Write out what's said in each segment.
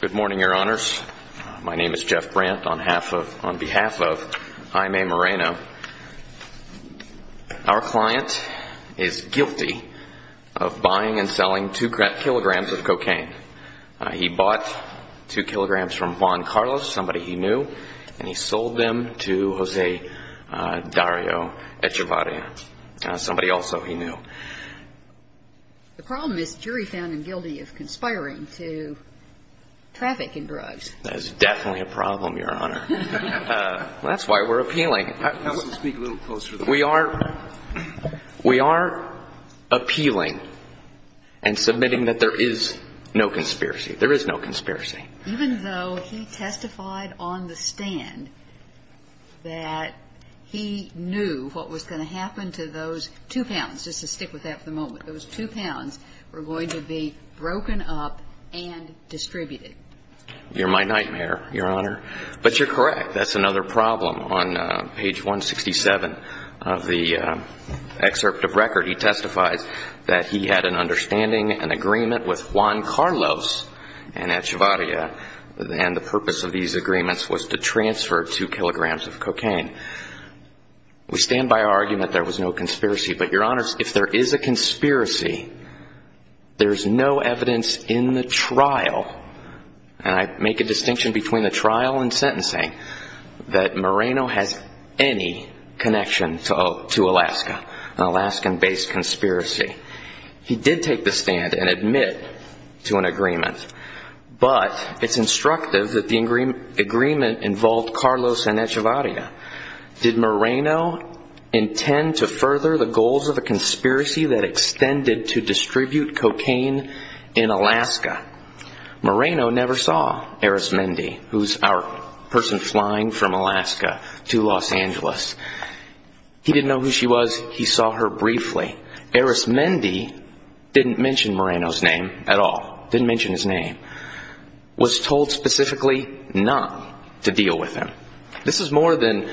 Good morning, your honors. My name is Jeff Brandt. On behalf of Jaime Moreno, our client is guilty of buying and selling two kilograms of cocaine. He bought two kilograms from Juan Carlos, somebody he knew, and he sold them to Jose Dario Echavarria, somebody also he knew. The problem is jury found him guilty of conspiring to traffic in drugs. That is definitely a problem, your honor. That's why we're appealing. I want to speak a little closer to the problem. We are appealing and submitting that there is no conspiracy. There is no conspiracy. The problem is that he testified on the stand that he knew what was going to happen to those two pounds. Just to stick with that for the moment. Those two pounds were going to be broken up and distributed. You're my nightmare, your honor. But you're correct. That's another problem. On page 167 of the excerpt of record, he testifies that he had an understanding, an agreement with Juan Carlos and Echavarria, and the purpose of these agreements was to transfer two kilograms of cocaine. We stand by our argument there was no conspiracy. But your honors, if there is a conspiracy, there's no evidence in the trial, and I make a distinction between the trial and sentencing, that Moreno has any connection to Alaska, an Alaskan-based conspiracy. He did take the stand and admit to an agreement, but it's instructive that the agreement involved Carlos and Echavarria. Did Moreno intend to further the goals of the conspiracy that extended to distribute cocaine in Alaska? Moreno never saw Eris Mendy, who's our person flying from Alaska to Los Angeles. He didn't know who she was. He saw her briefly. Eris Mendy didn't mention Moreno's name at all. Didn't mention his name. Was told specifically not to deal with him. This is more than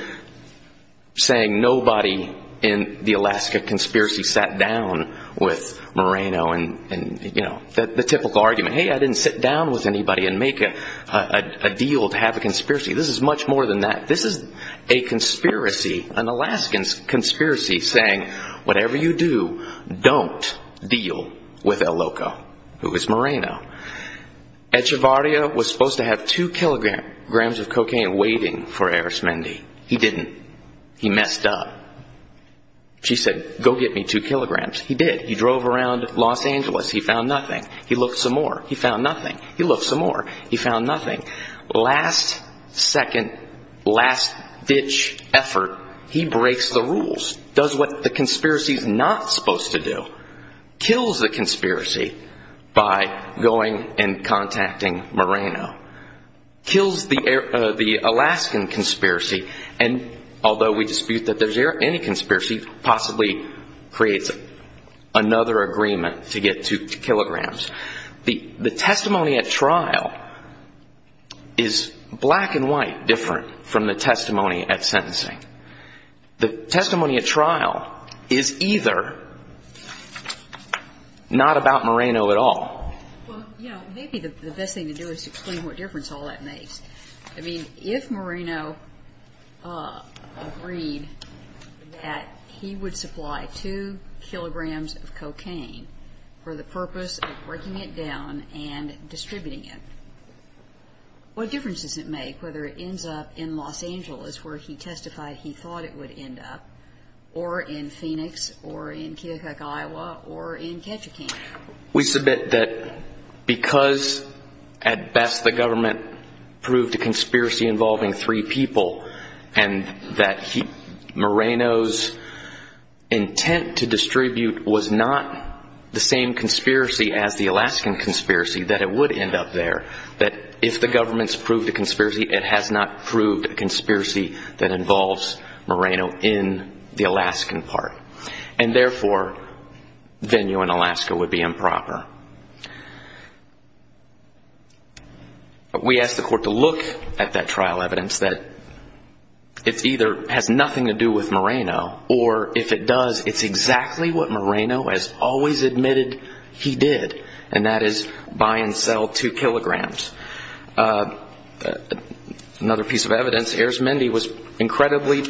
saying nobody in the Alaska conspiracy sat down with Moreno and, you know, the typical argument, hey, I didn't sit down with anybody and make a deal to have a conspiracy. This is much more than that. This is a conspiracy, an Alaskan conspiracy saying whatever you do, don't deal with El Loco, who is Moreno. Echavarria was supposed to have two kilograms of cocaine waiting for Eris Mendy. He didn't. He messed up. She said, go get me two kilograms. He did. He drove around Los Angeles. He found nothing. He looked some more. He found nothing. He looked some more. He found nothing. Last second, last ditch effort, he breaks the rules. Does what the conspiracy is not supposed to do. Kills the conspiracy by going and contacting Moreno. Kills the Alaskan conspiracy and although we dispute that there's any conspiracy, possibly creates another agreement to get two kilograms. The testimony at trial is black and white different from the testimony at sentencing. The testimony at trial is either not about Moreno at all. Well, you know, maybe the best thing to do is explain what difference all that makes. I mean, if Moreno agreed that he would supply two kilograms of cocaine for the purpose of breaking it down and distributing it, what difference does it make whether it ends up in Los Angeles where he testified he thought it would end up or in Phoenix or in Keokuk, Iowa or in Ketchikan? We submit that because at best the government proved a conspiracy involving three people and that Moreno's intent to distribute was not the same conspiracy as the Alaskan conspiracy that it would end up there. That if the government's proved a conspiracy, it has not proved a conspiracy that involves Moreno in the Alaskan part and therefore venue in Alaska would be improper. We ask the court to look at that trial evidence that it either has nothing to do with Moreno or if it does, it's exactly what Moreno has always admitted he did and that is buy and incredibly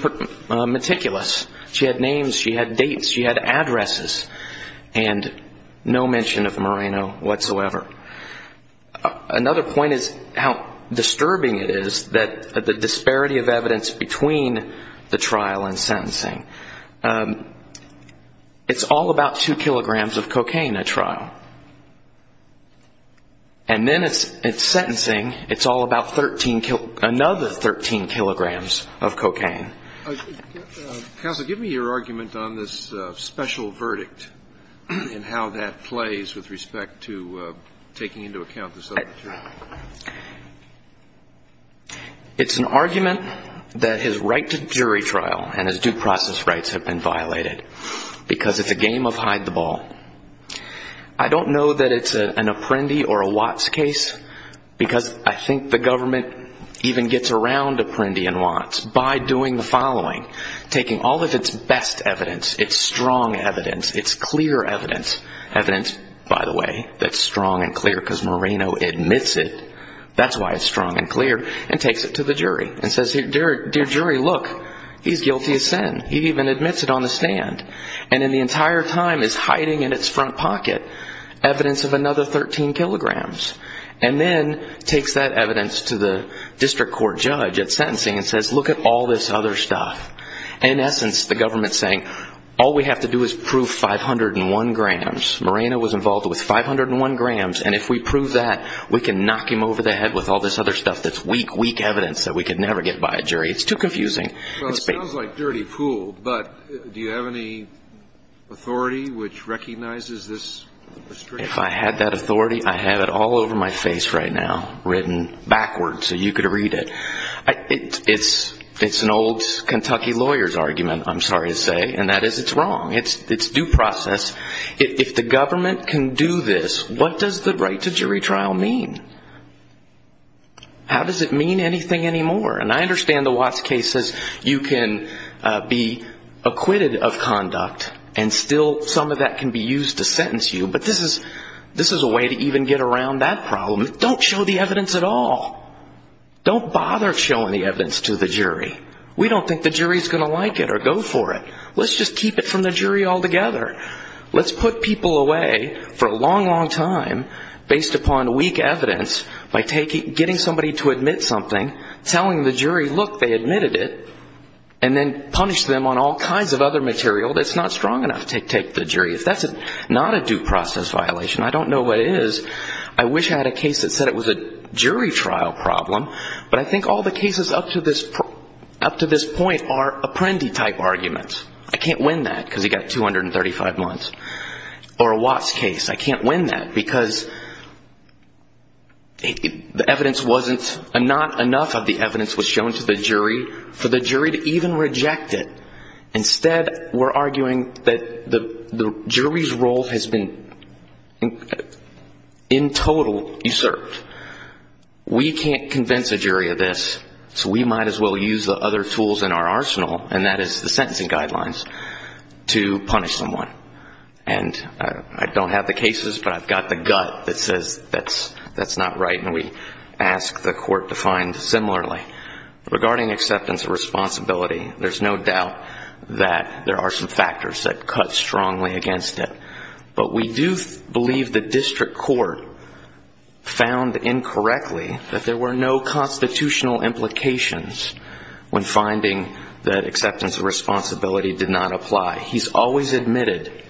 meticulous. She had names, she had dates, she had addresses and no mention of Moreno whatsoever. Another point is how disturbing it is that the disparity of evidence between the trial and sentencing. It's all about two kilograms of cocaine at trial. And then it's sentencing, it's all about another 13 kilograms of cocaine. Counsel, give me your argument on this special verdict and how that plays with respect to taking into account the subject. It's an argument that his right to jury trial and his due process rights have been violated because it's a game of hide the ball. I don't know that it's an Apprendi or a Watts case because I think the government even gets around Apprendi and Watts by doing the following, taking all of its best evidence, its strong evidence, its clear evidence, evidence, by the way, that's strong and clear because Moreno admits it. That's why it's strong and clear and takes it to the jury and says, dear jury, look, he's guilty of sin. He even admits it on the stand. And in the entire time is hiding in its front pocket evidence of another 13 kilograms. And then takes that evidence to the district court judge at sentencing and says, look at all this other stuff. In essence, the government's saying, all we have to do is prove 501 grams. Moreno was involved with 501 grams. And if we prove that, we can knock him over the head with all this other stuff that's weak, weak evidence that we could never get by a jury. It's too confusing. It sounds like dirty pool. But do you have any authority which recognizes this? If I had that authority, I have it all over my face right now, written backwards so you could read it. It's an old Kentucky lawyer's argument, I'm sorry to say. And that is it's wrong. It's due process. If the government can do this, what does the right to jury trial mean? How does it mean anything anymore? And I understand the Watts case says you can be acquitted of conduct and still some of that can be used to sentence you. But this is a way to even get around that problem. Don't show the evidence at all. Don't bother showing the evidence to the jury. We don't think the jury's going to like it or go for it. Let's just keep it from the jury altogether. Let's put people away for a long, long time based upon weak evidence by getting somebody to admit something, telling the jury, look, they admitted it, and then punish them on all kinds of other material that's not strong enough to take the jury. If that's not a due process violation, I don't know what is. I wish I had a case that said it was a jury trial problem. But I think all the cases up to this point are Apprendi-type arguments. I can't win that because he got 235 months. Or a Watts case. I can't win that because not enough of the evidence was shown to the jury for the jury to even reject it. Instead, we're arguing that the jury's role has been in total usurped. We can't convince a jury of this, so we might as well use the other tools in our arsenal, and that is the sentencing gut that says that's not right, and we ask the court to find similarly. Regarding acceptance of responsibility, there's no doubt that there are some factors that cut strongly against it. But we do believe the district court found incorrectly that there were no constitutional implications when finding that acceptance of responsibility did not apply. He's always admitted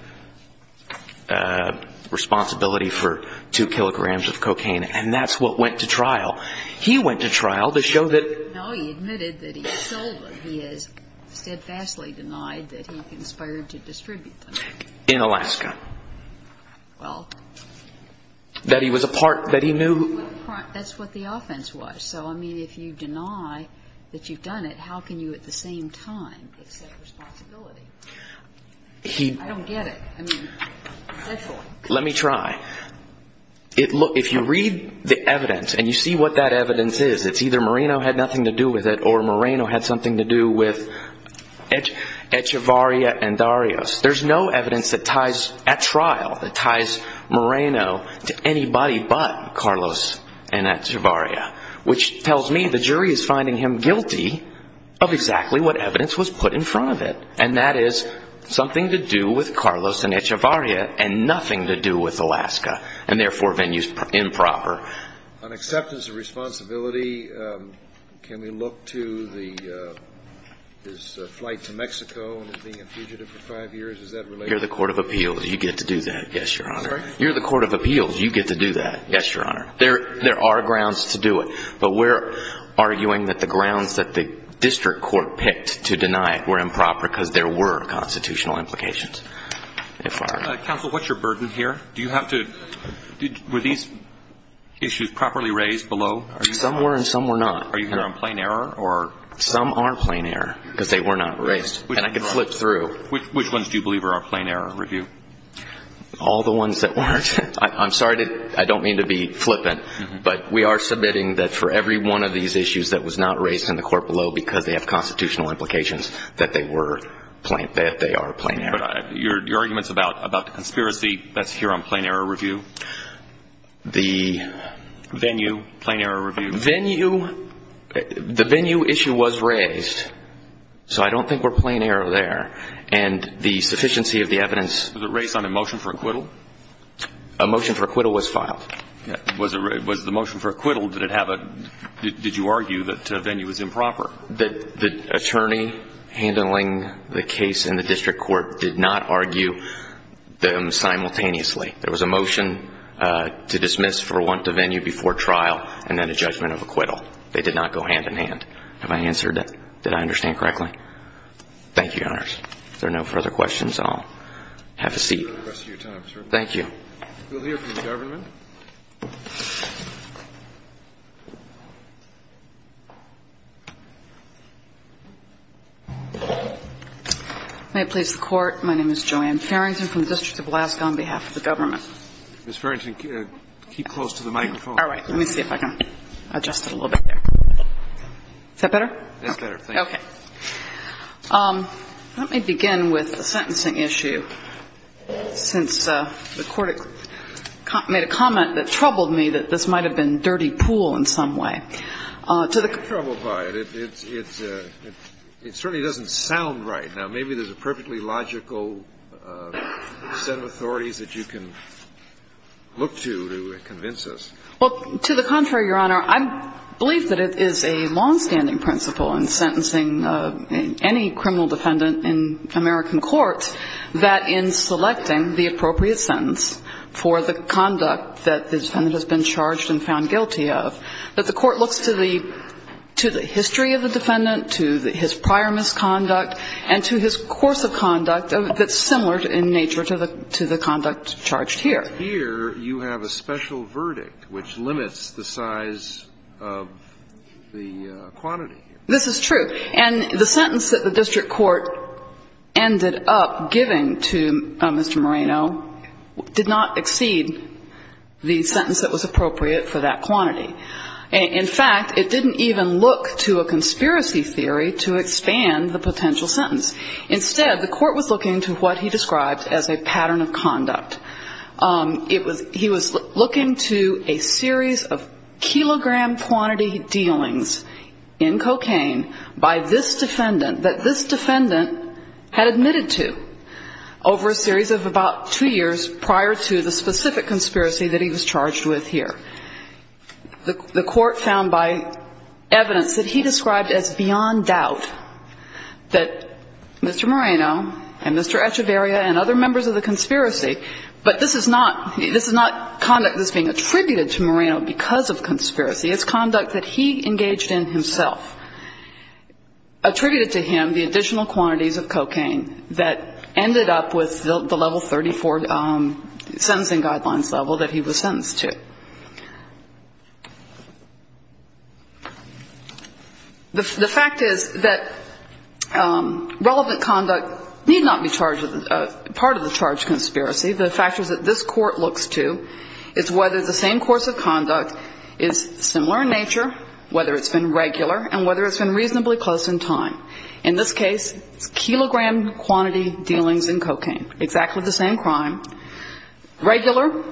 responsibility for two kilograms of cocaine, and that's what went to trial. He went to trial to show that... No, he admitted that he sold them. He has steadfastly denied that he conspired to distribute them. In Alaska. That he was a part, that he knew... That's what the offense was. So, I mean, if you deny that you've done it, how can you at the same time accept responsibility? I don't get it. Let me try. If you read the evidence and you see what that evidence is, it's either Moreno had nothing to do with it or Moreno had something to do with Echevarria and Darius. There's no evidence that ties at trial, that ties Moreno to anybody but Carlos and Echevarria, which tells me the jury is finding him guilty of exactly what evidence was put in front of it, and that is something to do with Carlos and Echevarria and nothing to do with Alaska, and therefore venues improper. On acceptance of responsibility, can we look to his flight to Mexico and his being a fugitive for five years? Is that related? You're the court of appeals. You get to do that. Yes, Your Honor. You're the court of appeals. You get to do that. Yes, Your Honor. There are grounds to do it, but we're arguing that the grounds that the district court picked to deny were improper because there were constitutional implications. Counsel, what's your burden here? Do you have to – were these issues properly raised below? Some were and some were not. Are you here on plain error or – Some are plain error because they were not raised, and I can flip through. Which ones do you believe are on plain error review? All the ones that weren't. I'm sorry to – I don't mean to be flippant, but we are submitting that for every one of these issues that was not raised in the court below because they have constitutional implications, that they were – that they are plain error. But your arguments about the conspiracy, that's here on plain error review? The – Venue, plain error review. Venue – the venue issue was raised, so I don't think we're plain error there. And the sufficiency of the evidence – Was it raised on a motion for acquittal? A motion for acquittal was filed. Was the motion for acquittal – did it have a – did you argue that venue was improper? The attorney handling the case in the district court did not argue them simultaneously. There was a motion to dismiss for want of venue before trial and then a judgment of acquittal. They did not go hand-in-hand. Have I answered – did I understand correctly? Thank you, Your Honors. If there are no further questions, I'll have a seat. We request your time, sir. Thank you. We'll hear from the government. May it please the Court, my name is Joanne Farrington from the District of Alaska on behalf of the government. Ms. Farrington, keep close to the microphone. All right. Let me see if I can adjust it a little bit there. Is that better? That's better, thank you. Okay. Let me begin with a sentencing issue, since the Court made a comment that troubled me that this might have been dirty pool in some way. To the contrary – I'm not troubled by it. It certainly doesn't sound right. Now, maybe there's a perfectly logical set of authorities that you can look to to convince us. Well, to the contrary, Your Honor. I believe that it is a longstanding principle in sentencing any criminal defendant in American court that in selecting the appropriate sentence for the conduct that the defendant has been charged and found guilty of, that the Court looks to the history of the defendant, to his prior misconduct, and to his course of conduct that's similar in nature to the conduct charged here. Here you have a special verdict which limits the size of the quantity. This is true. And the sentence that the district court ended up giving to Mr. Moreno did not exceed the sentence that was appropriate for that quantity. In fact, it didn't even look to a conspiracy theory to expand the potential sentence. Instead, the Court was looking to what he described as a pattern of conduct. He was looking to a series of by this defendant that this defendant had admitted to over a series of about two years prior to the specific conspiracy that he was charged with here. The Court found by evidence that he described as beyond doubt that Mr. Moreno and Mr. Echevarria and other members of the conspiracy, but this is not conduct that's being attributed to Moreno because of conspiracy. It's conduct that he engaged in himself, attributed to him the additional quantities of cocaine that ended up with the level 34 sentencing guidelines level that he was sentenced to. The fact is that relevant conduct need not be part of the charge conspiracy. The factors that this Court looks to is whether the same course of conduct is similar in nature, whether it's been regular, and whether it's been reasonably close in time. In this case, kilogram quantity dealings in cocaine, exactly the same crime. Regular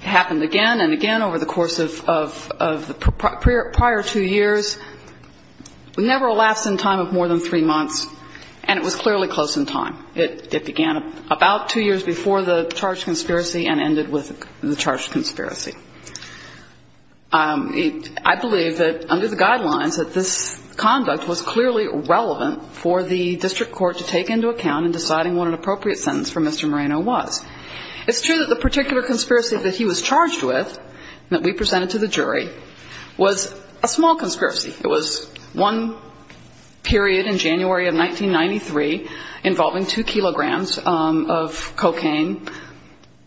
happened again and again over the course of the prior two years, never a lapse in time of more than three months, and it was clearly close in time. It began about two years before the charge conspiracy and ended with the charge conspiracy. I believe that under the guidelines that this conduct was clearly relevant for the district court to take into account in deciding what an appropriate sentence for Mr. Moreno was. It's true that the particular conspiracy that he was charged with and that we presented to the jury was a small conspiracy. It was one period in January of 1993 involving two kilograms of cocaine.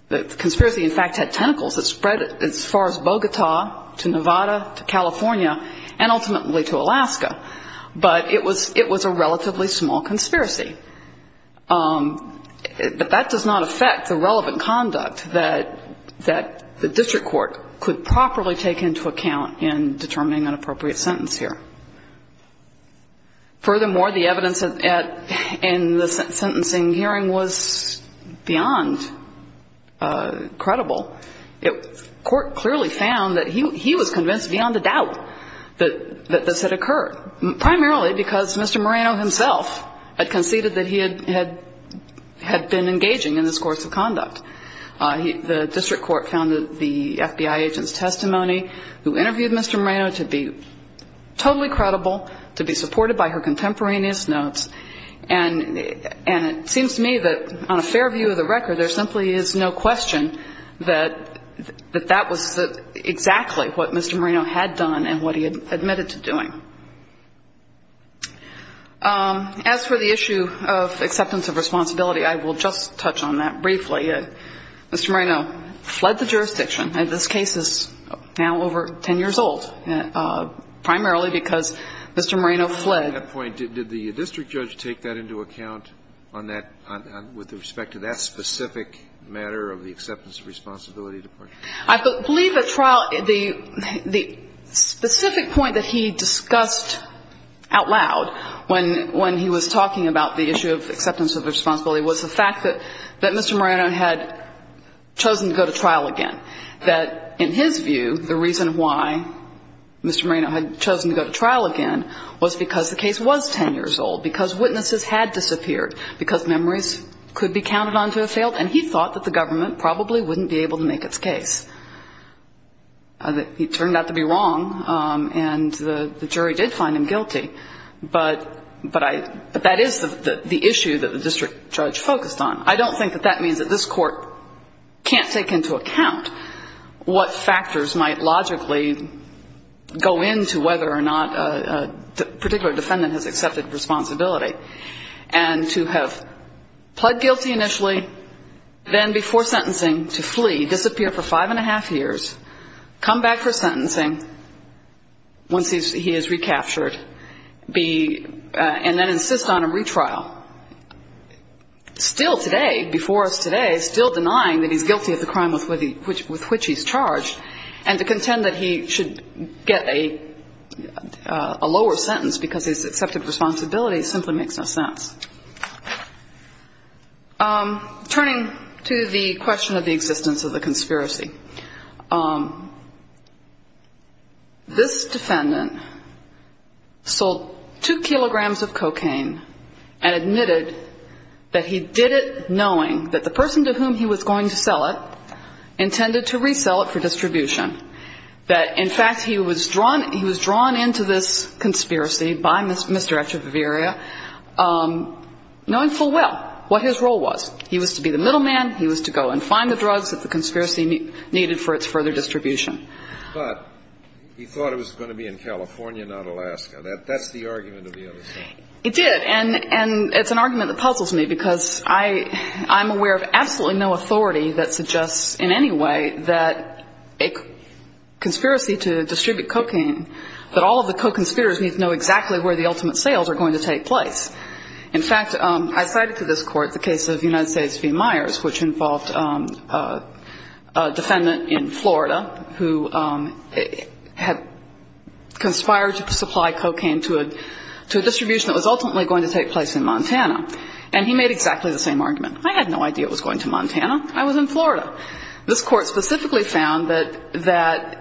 The conspiracy, in fact, had tentacles that spread as far as Bogota to Nevada to California and ultimately to Alaska. But it was a relatively small conspiracy. But that does not affect the relevant conduct that the district court could properly take into account in determining an appropriate sentence here. Furthermore, the evidence in the sentencing hearing was beyond credible. The court clearly found that he was convinced beyond a doubt that this had occurred, primarily because Mr. Moreno himself had conceded that he had been engaging in this course of conduct. The district court found that the FBI agent's testimony who interviewed Mr. Moreno to be totally credible, to be supported by her contemporaneous notes, and it seems to me that on a fair view of the record, there simply is no question that that was exactly what Mr. Moreno had done and what he had admitted to doing. As for the issue of acceptance of responsibility, I will just touch on that briefly. Mr. Moreno fled the jurisdiction. This case is now over ten years old, primarily because Mr. Moreno fled. At that point, did the district judge take that into account with respect to that specific matter of the acceptance of responsibility? I believe that the specific point that he discussed out loud when he was talking about the issue of acceptance of responsibility was the fact that Mr. Moreno had chosen to go to trial again, that in his view, the reason why Mr. Moreno had chosen to go to trial again was because the case was ten years old, because witnesses had disappeared, because memories could be counted on to have failed, and he thought that the government probably wouldn't be able to make its case. He turned out to be wrong, and the jury did find him guilty. But that is the issue that the district judge focused on. I don't think that that means that this court can't take into account what factors might logically go into whether or not a particular defendant has accepted responsibility. And to have pled guilty initially, then before sentencing to flee, disappear for five and a half years, come back for sentencing once he is recaptured, and then insist on a retrial, still today, before us today, still denying that he's guilty of the crime with which he's charged, and to contend that he should get a lower sentence because he's accepted responsibility simply makes no sense. Turning to the question of the existence of the conspiracy, this defendant sold two kilograms of cocaine and admitted that he did it knowing that the person to whom he was going to sell it intended to resell it for distribution, that, in fact, he was drawn into this conspiracy by Mr. Echevarria knowing full well what his role was. He was to be the middleman. He was to go and find the drugs that the conspiracy needed for its further distribution. But he thought it was going to be in California, not Alaska. That's the argument of the other side. It did, and it's an argument that puzzles me because I'm aware of absolutely no authority that suggests in any way that a conspiracy to distribute cocaine, that all of the co-conspirators need to know exactly where the ultimate sales are going to take place. In fact, I cited to this Court the case of United States v. Myers, which involved a defendant in Florida who had conspired to supply cocaine to a distribution that was ultimately going to take place in Montana. And he made exactly the same argument. I had no idea it was going to Montana. I was in Florida. This Court specifically found that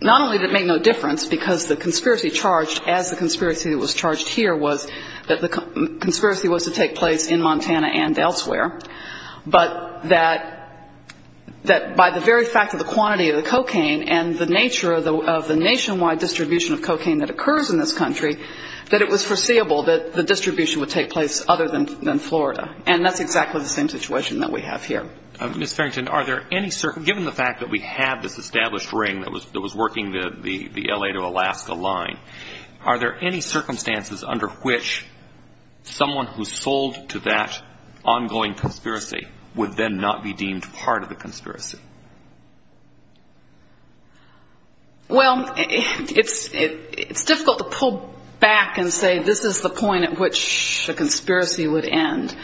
not only did it make no difference because the conspiracy charged as the conspiracy that was charged here was that the conspiracy was to take place in Montana and elsewhere, but that by the very fact of the quantity of the cocaine and the nature of the nationwide distribution of cocaine that occurs in this country, that it was foreseeable that the distribution would take place other than Florida. And that's exactly the same situation that we have here. Ms. Farrington, given the fact that we have this established ring that was working the L.A. to Alaska line, are there any circumstances under which someone who sold to that ongoing conspiracy would then not be deemed part of the conspiracy? Well, it's difficult to pull back and say this is the point at which the conspiracy would end.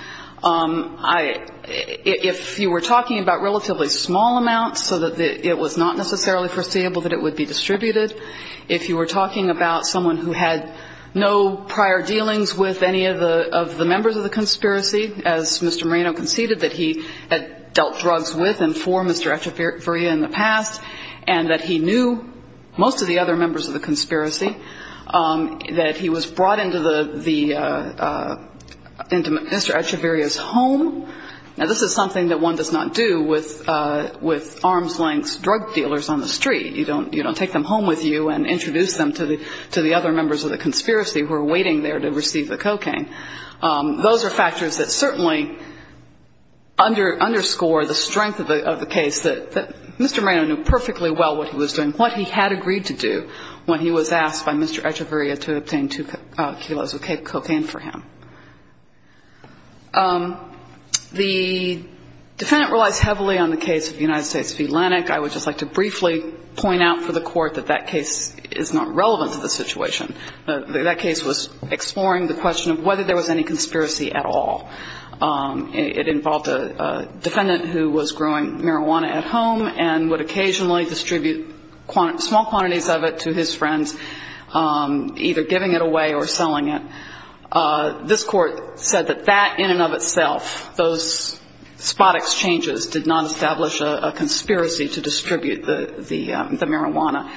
If you were talking about relatively small amounts so that it was not necessarily foreseeable that it would be distributed, if you were talking about someone who had no prior dealings with any of the members of the conspiracy, as Mr. Moreno conceded that he had dealt drugs with and for Mr. Echevarria in the past and that he knew most of the other members of the conspiracy, that he was brought into Mr. Echevarria's home. Now, this is something that one does not do with arm's length drug dealers on the street. You don't take them home with you and introduce them to the other members of the conspiracy who are waiting there to receive the cocaine. Those are factors that certainly underscore the strength of the case that Mr. Moreno knew perfectly well what he was doing, what he had agreed to do when he was asked by Mr. Echevarria to obtain two kilos of cocaine for him. The defendant relies heavily on the case of the United States v. Lennock. I would just like to briefly point out for the Court that that case is not relevant to the situation. That case was exploring the question of whether there was any conspiracy at all. It involved a defendant who was growing marijuana at home and would occasionally distribute small quantities of it to his friends, either giving it away or selling it. This Court said that that in and of itself, those spot exchanges, did not establish a conspiracy to distribute the marijuana.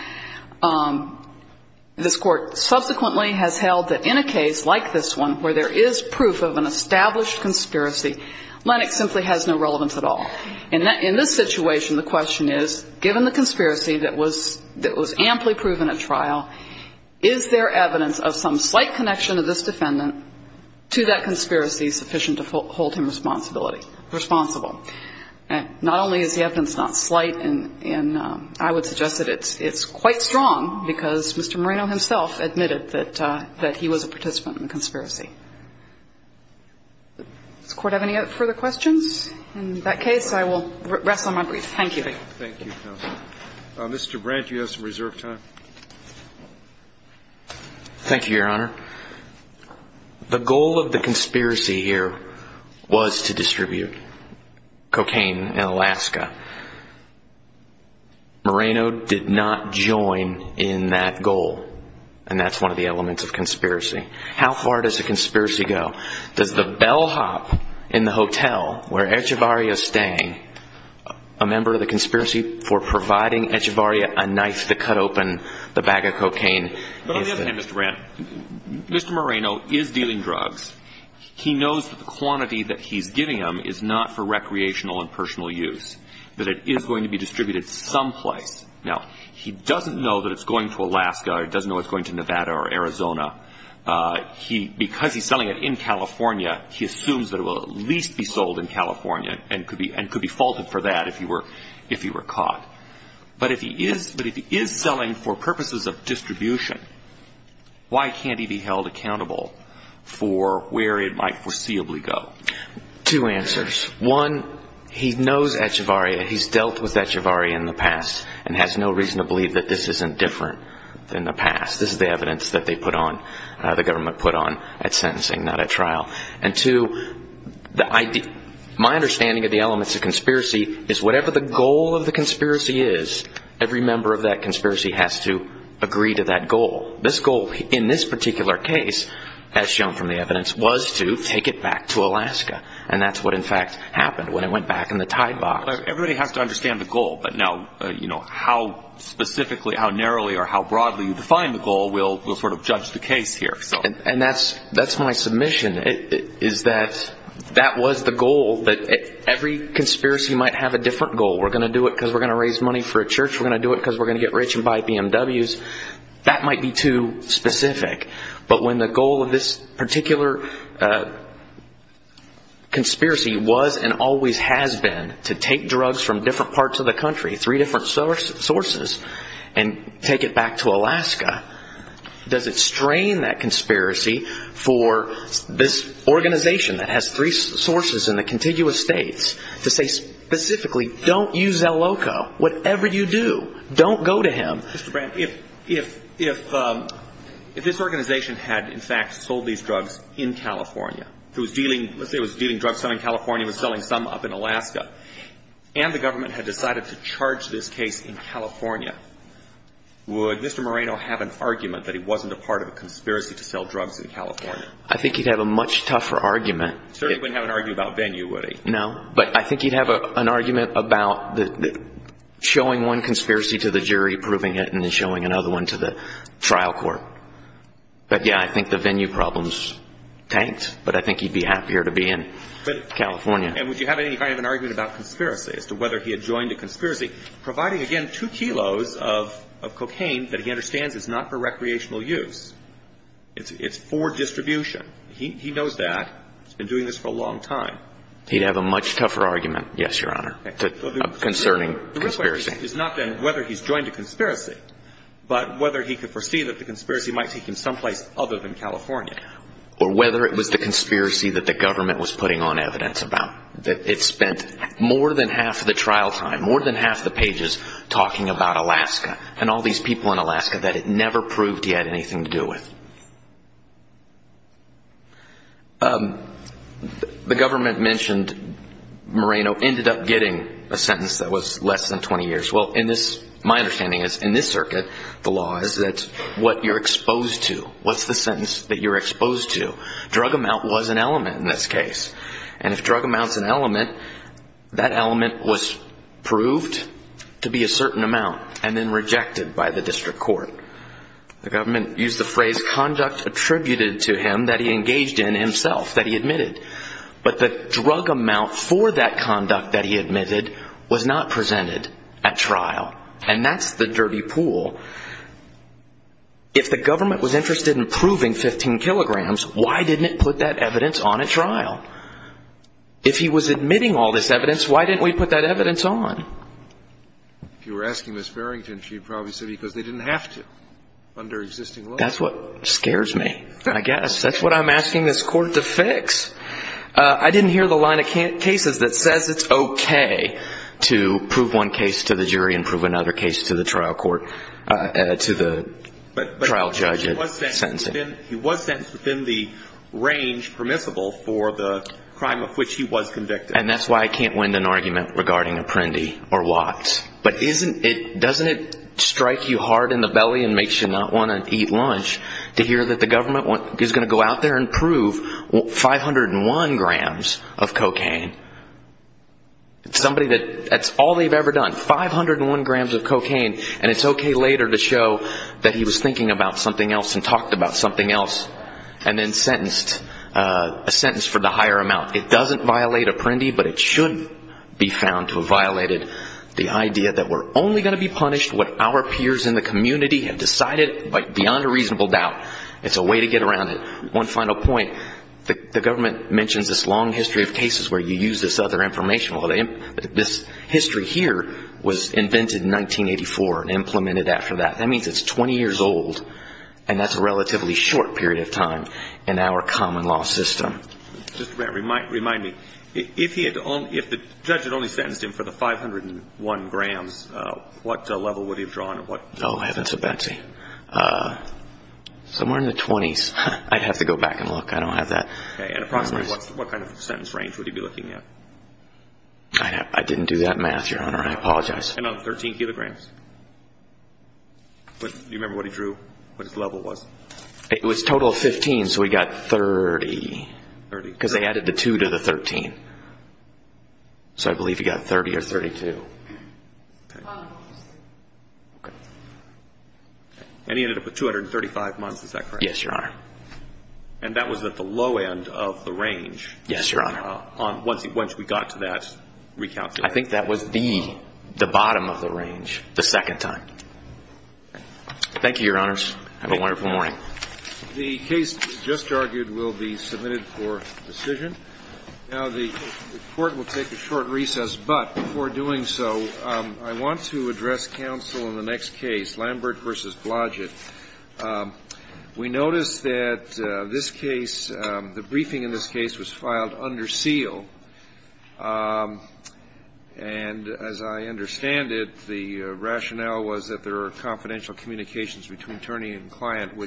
This Court subsequently has held that in a case like this one, where there is proof of an established conspiracy, Lennock simply has no relevance at all. In this situation, the question is, given the conspiracy that was amply proven at trial, is there evidence of some slight connection of this defendant to that conspiracy sufficient to hold him responsible? Not only is the evidence not slight, and I would suggest that it's quite strong because Mr. Moreno himself admitted that he was a participant in the conspiracy. Does the Court have any further questions? In that case, I will rest on my brief. Thank you. Thank you, Counsel. Mr. Brandt, you have some reserved time. Thank you, Your Honor. The goal of the conspiracy here was to distribute cocaine in Alaska. Moreno did not join in that goal, and that's one of the elements of conspiracy. How far does a conspiracy go? Does the bellhop in the hotel where Echevarria is staying, a member of the conspiracy for providing Echevarria a knife to cut open the bag of cocaine? But on the other hand, Mr. Brandt, Mr. Moreno is dealing drugs. He knows that the quantity that he's giving them is not for recreational and personal use, that it is going to be distributed someplace. Now, he doesn't know that it's going to Alaska or he doesn't know it's going to Nevada or Arizona. Because he's selling it in California, he assumes that it will at least be sold in California and could be faulted for that if he were caught. But if he is selling for purposes of distribution, why can't he be held accountable for where it might foreseeably go? Two answers. One, he knows Echevarria. He's dealt with Echevarria in the past and has no reason to believe that this isn't different than the past. This is the evidence that they put on, the government put on at sentencing, not at trial. And two, my understanding of the elements of conspiracy is whatever the goal of the conspiracy is, every member of that conspiracy has to agree to that goal. This goal, in this particular case, as shown from the evidence, was to take it back to Alaska. And that's what, in fact, happened when it went back in the Tide box. Everybody has to understand the goal. But now, you know, how specifically, how narrowly or how broadly you define the goal will sort of judge the case here. And that's my submission, is that that was the goal. Every conspiracy might have a different goal. We're going to do it because we're going to raise money for a church. We're going to do it because we're going to get rich and buy BMWs. That might be too specific. But when the goal of this particular conspiracy was and always has been to take drugs from different parts of the country, three different sources, and take it back to Alaska, does it strain that conspiracy for this organization that has three sources in the contiguous states to say specifically, don't use Zaloko. Whatever you do, don't go to him. Mr. Brandt, if this organization had, in fact, sold these drugs in California, it was dealing, let's say it was dealing drugs down in California and was selling some up in Alaska, and the government had decided to charge this case in California, would Mr. Moreno have an argument that he wasn't a part of a conspiracy to sell drugs in California? I think he'd have a much tougher argument. He certainly wouldn't have an argument about venue, would he? No. But I think he'd have an argument about showing one conspiracy to the jury, proving it, and then showing another one to the trial court. But, yeah, I think the venue problems tanked. But I think he'd be happier to be in California. And would you have any kind of an argument about conspiracy as to whether he had joined a conspiracy, providing, again, two kilos of cocaine that he understands is not for recreational use. It's for distribution. He knows that. He's been doing this for a long time. He'd have a much tougher argument, yes, Your Honor, concerning conspiracy. The real question is not then whether he's joined a conspiracy, but whether he could foresee that the conspiracy might take him someplace other than California. Or whether it was the conspiracy that the government was putting on evidence about, that it spent more than half the trial time, more than half the pages, talking about Alaska and all these people in Alaska that it never proved he had anything to do with. The government mentioned Moreno ended up getting a sentence that was less than 20 years. Well, in this, my understanding is, in this circuit, the law is that what you're exposed to, what's the sentence that you're exposed to? Drug amount was an element in this case. And if drug amount's an element, that element was proved to be a certain amount and then rejected by the district court. The government used the phrase conduct attributed to him that he engaged in himself, that he admitted. But the drug amount for that conduct that he admitted was not presented at trial. And that's the dirty pool. If the government was interested in proving 15 kilograms, why didn't it put that evidence on at trial? If he was admitting all this evidence, why didn't we put that evidence on? If you were asking Ms. Farrington, she'd probably say because they didn't have to under existing law. That's what scares me, I guess. That's what I'm asking this court to fix. I didn't hear the line of cases that says it's okay to prove one case to the jury and prove another case to the trial court. To the trial judge sentencing. He was sentenced within the range permissible for the crime of which he was convicted. And that's why I can't win an argument regarding Apprendi or Watts. But doesn't it strike you hard in the belly and makes you not want to eat lunch to hear that the government is going to go out there and prove 501 grams of cocaine? That's all they've ever done. 501 grams of cocaine and it's okay later to show that he was thinking about something else and talked about something else and then sentenced, a sentence for the higher amount. It doesn't violate Apprendi, but it should be found to have violated the idea that we're only going to be punished what our peers in the community have decided beyond a reasonable doubt. It's a way to get around it. One final point. The government mentions this long history of cases where you use this other information. This history here was invented in 1984 and implemented after that. That means it's 20 years old and that's a relatively short period of time in our common law system. Just remind me, if the judge had only sentenced him for the 501 grams, what level would he have drawn? Oh, heaven to Betsy. Somewhere in the 20s. I'd have to go back and look. I don't have that. Approximately what kind of sentence range would he be looking at? I didn't do that math, Your Honor. I apologize. 13 kilograms. Do you remember what he drew? What his level was? It was a total of 15, so he got 30. Because they added the 2 to the 13. So I believe he got 30 or 32. Okay. And he ended up with 235 months, is that correct? Yes, Your Honor. And that was at the low end of the range. Yes, Your Honor. Once we got to that recount. I think that was the bottom of the range the second time. Thank you, Your Honors. Have a wonderful morning. The case just argued will be submitted for decision. Now, the Court will take a short recess. But before doing so, I want to address counsel in the next case, Lambert v. Blodgett. We noticed that this case, the briefing in this case, was filed under seal. And as I understand it, the rationale was that there were confidential communications between attorney and client.